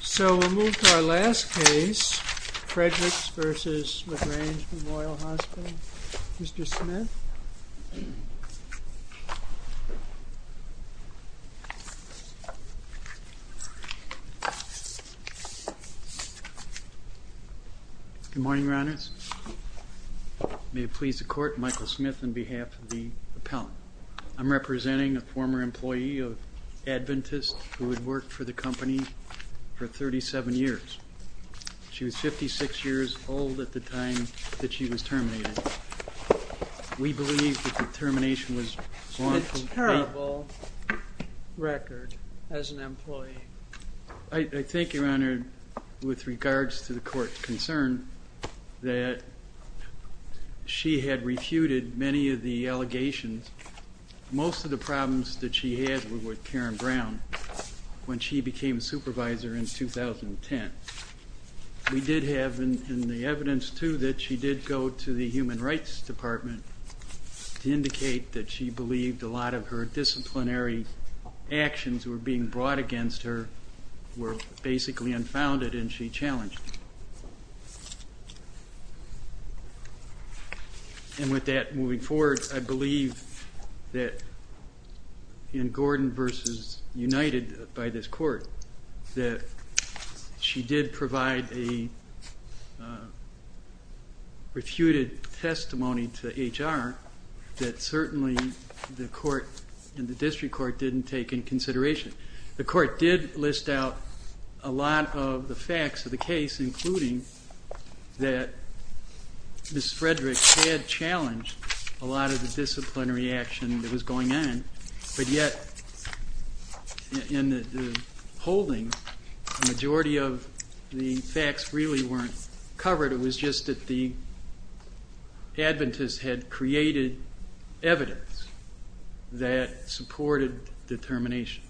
So we'll move to our last case, Fredericks v. La Grange Memorial Hospital. Mr. Smith. Good morning, Your Honors. May it please the Court, Michael Smith on behalf of the appellant. I'm representing a former employee of Adventist who had worked for the company for 37 years. She was 56 years old at the time that she was terminated. We believe that the termination was... It's a terrible record as an employee. I think, Your Honor, with regards to the Court's concern that she had refuted many of the allegations, most of the problems that she had were with Karen Brown when she became supervisor in 2010. We did have in the evidence, too, that she did go to the Human Rights Department to indicate that she believed a lot of her disciplinary actions were being brought against her were basically unfounded and she challenged them. And with that, moving forward, I believe that in Gordon v. United, by this Court, that she did provide a refuted testimony to HR that certainly the Court and the District Court didn't take into consideration. The Court did list out a lot of the facts of the case, including that Ms. Fredericks had challenged a lot of the disciplinary action that was going on, but yet in the holding, the majority of the facts really weren't covered. It was just that the Adventists had created evidence that supported the termination.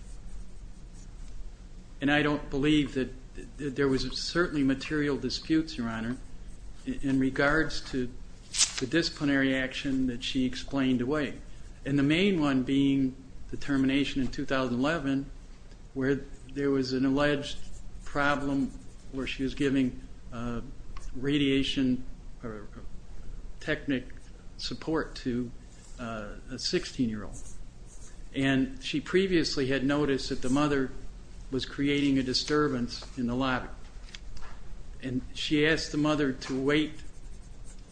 And I don't believe that there was certainly material disputes, Your Honor, in regards to the disciplinary action that she explained away. And the main one being the termination in 2011, where there was an alleged problem where she was giving radiation or technic support to a 16-year-old. And she previously had noticed that the mother was creating a disturbance in the lobby. And she asked the mother to wait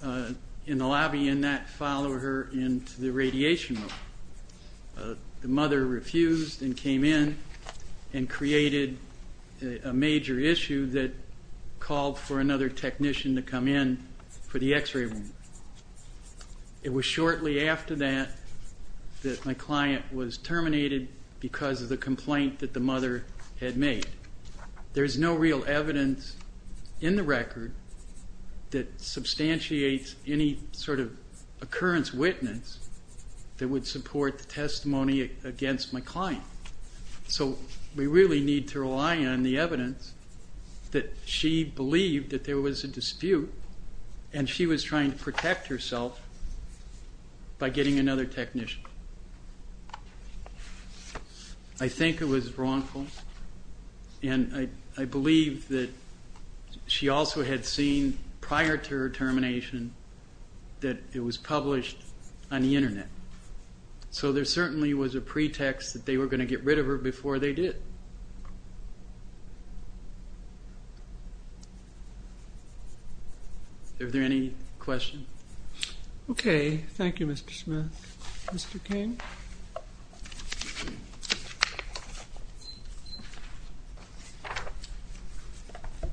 in the lobby and not follow her into the radiation room. The mother refused and came in and created a major issue that called for another technician to come in for the x-ray room. It was shortly after that that my client was terminated because of the complaint that the mother had made. There is no real evidence in the record that substantiates any sort of occurrence witness that would support the testimony against my client. So we really need to rely on the evidence that she believed that there was a dispute and she was trying to protect herself by getting another technician. I think it was wrongful, and I believe that she also had seen prior to her termination that it was published on the Internet. So there certainly was a pretext that they were going to get rid of her before they did. Are there any questions? Okay. Thank you, Mr. Schmidt. Mr. Cain.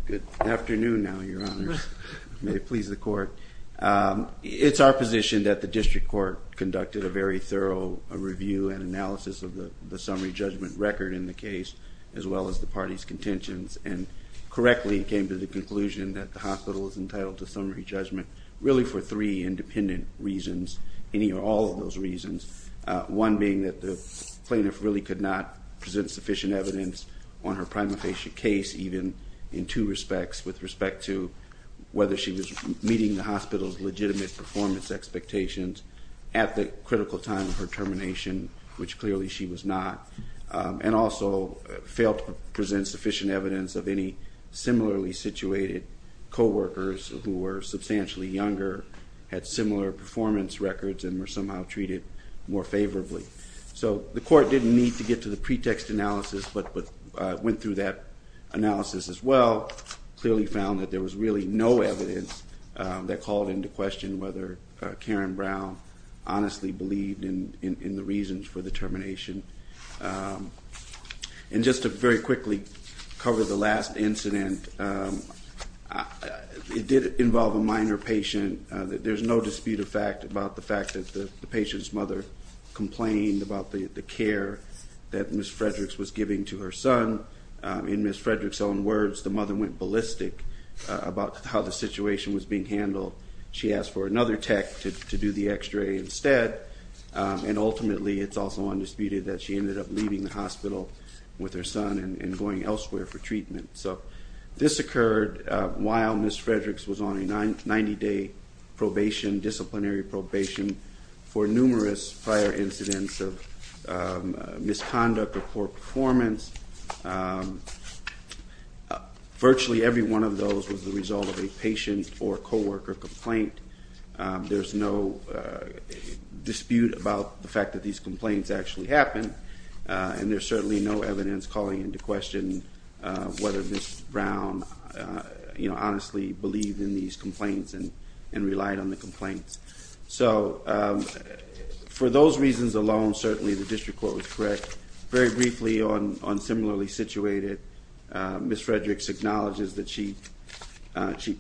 Good afternoon now, Your Honors. May it please the Court. It's our position that the district court conducted a very thorough review and analysis of the summary judgment record in the case as well as the party's contentions and correctly came to the conclusion that the hospital is entitled to summary judgment really for three independent reasons, any or all of those reasons, one being that the plaintiff really could not present sufficient evidence on her prima facie case even in two respects with respect to whether she was meeting the hospital's legitimate performance expectations at the critical time of her termination, which clearly she was not, and also failed to present sufficient evidence of any similarly situated coworkers who were substantially younger, had similar performance records, and were somehow treated more favorably. So the Court didn't need to get to the pretext analysis but went through that analysis as well, clearly found that there was really no evidence that called into question whether Karen Brown honestly believed in the reasons for the termination. And just to very quickly cover the last incident, it did involve a minor patient. There's no dispute of fact about the fact that the patient's mother complained about the care that Ms. Frederick's was giving to her son. In Ms. Frederick's own words, the mother went ballistic about how the situation was being handled. She asked for another tech to do the x-ray instead, and ultimately it's also undisputed that she ended up leaving the hospital with her son and going elsewhere for treatment. So this occurred while Ms. Frederick's was on a 90-day probation, disciplinary probation, for numerous prior incidents of misconduct or poor performance. Virtually every one of those was the result of a patient or co-worker complaint. There's no dispute about the fact that these complaints actually happened, and there's certainly no evidence calling into question whether Ms. Brown honestly believed in these complaints and relied on the complaints. So for those reasons alone, certainly the district court was correct. Very briefly on similarly situated, Ms. Frederick's acknowledges that she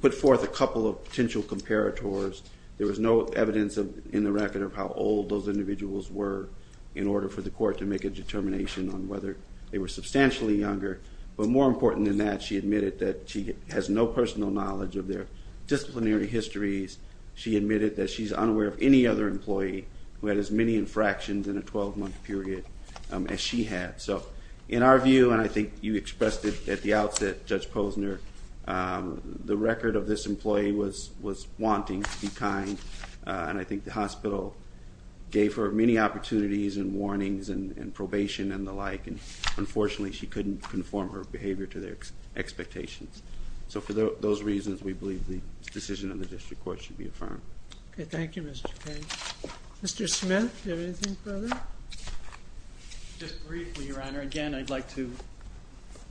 put forth a couple of potential comparators. There was no evidence in the record of how old those individuals were in order for the court to make a determination on whether they were substantially younger. But more important than that, she admitted that she has no personal knowledge of their disciplinary histories. She admitted that she's unaware of any other employee who had as many infractions in a 12-month period as she had. So in our view, and I think you expressed it at the outset, Judge Posner, the record of this employee was wanting to be kind, and I think the hospital gave her many opportunities and warnings and probation and the like, and unfortunately she couldn't conform her behavior to their expectations. So for those reasons, we believe the decision of the district court should be affirmed. Okay. Thank you, Mr. Kaye. Mr. Smith, do you have anything further? Just briefly, Your Honor. Again, I'd like to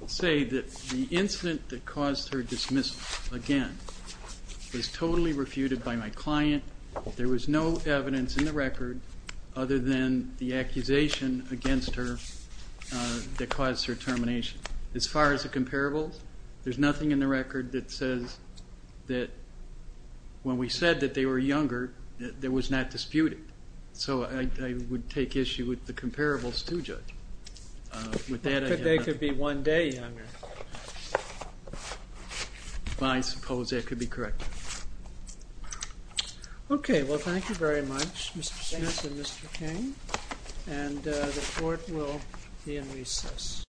say that the incident that caused her dismissal, again, was totally refuted by my client. There was no evidence in the record other than the accusation against her that caused her termination. As far as the comparables, there's nothing in the record that says that when we said that they were younger, there was not disputed. So I would take issue with the comparables, too, Judge. With that, I have nothing. But they could be one day younger. I suppose that could be corrected. Okay. Well, thank you very much, Mr. Smith and Mr. Kaye. And the court will be in recess.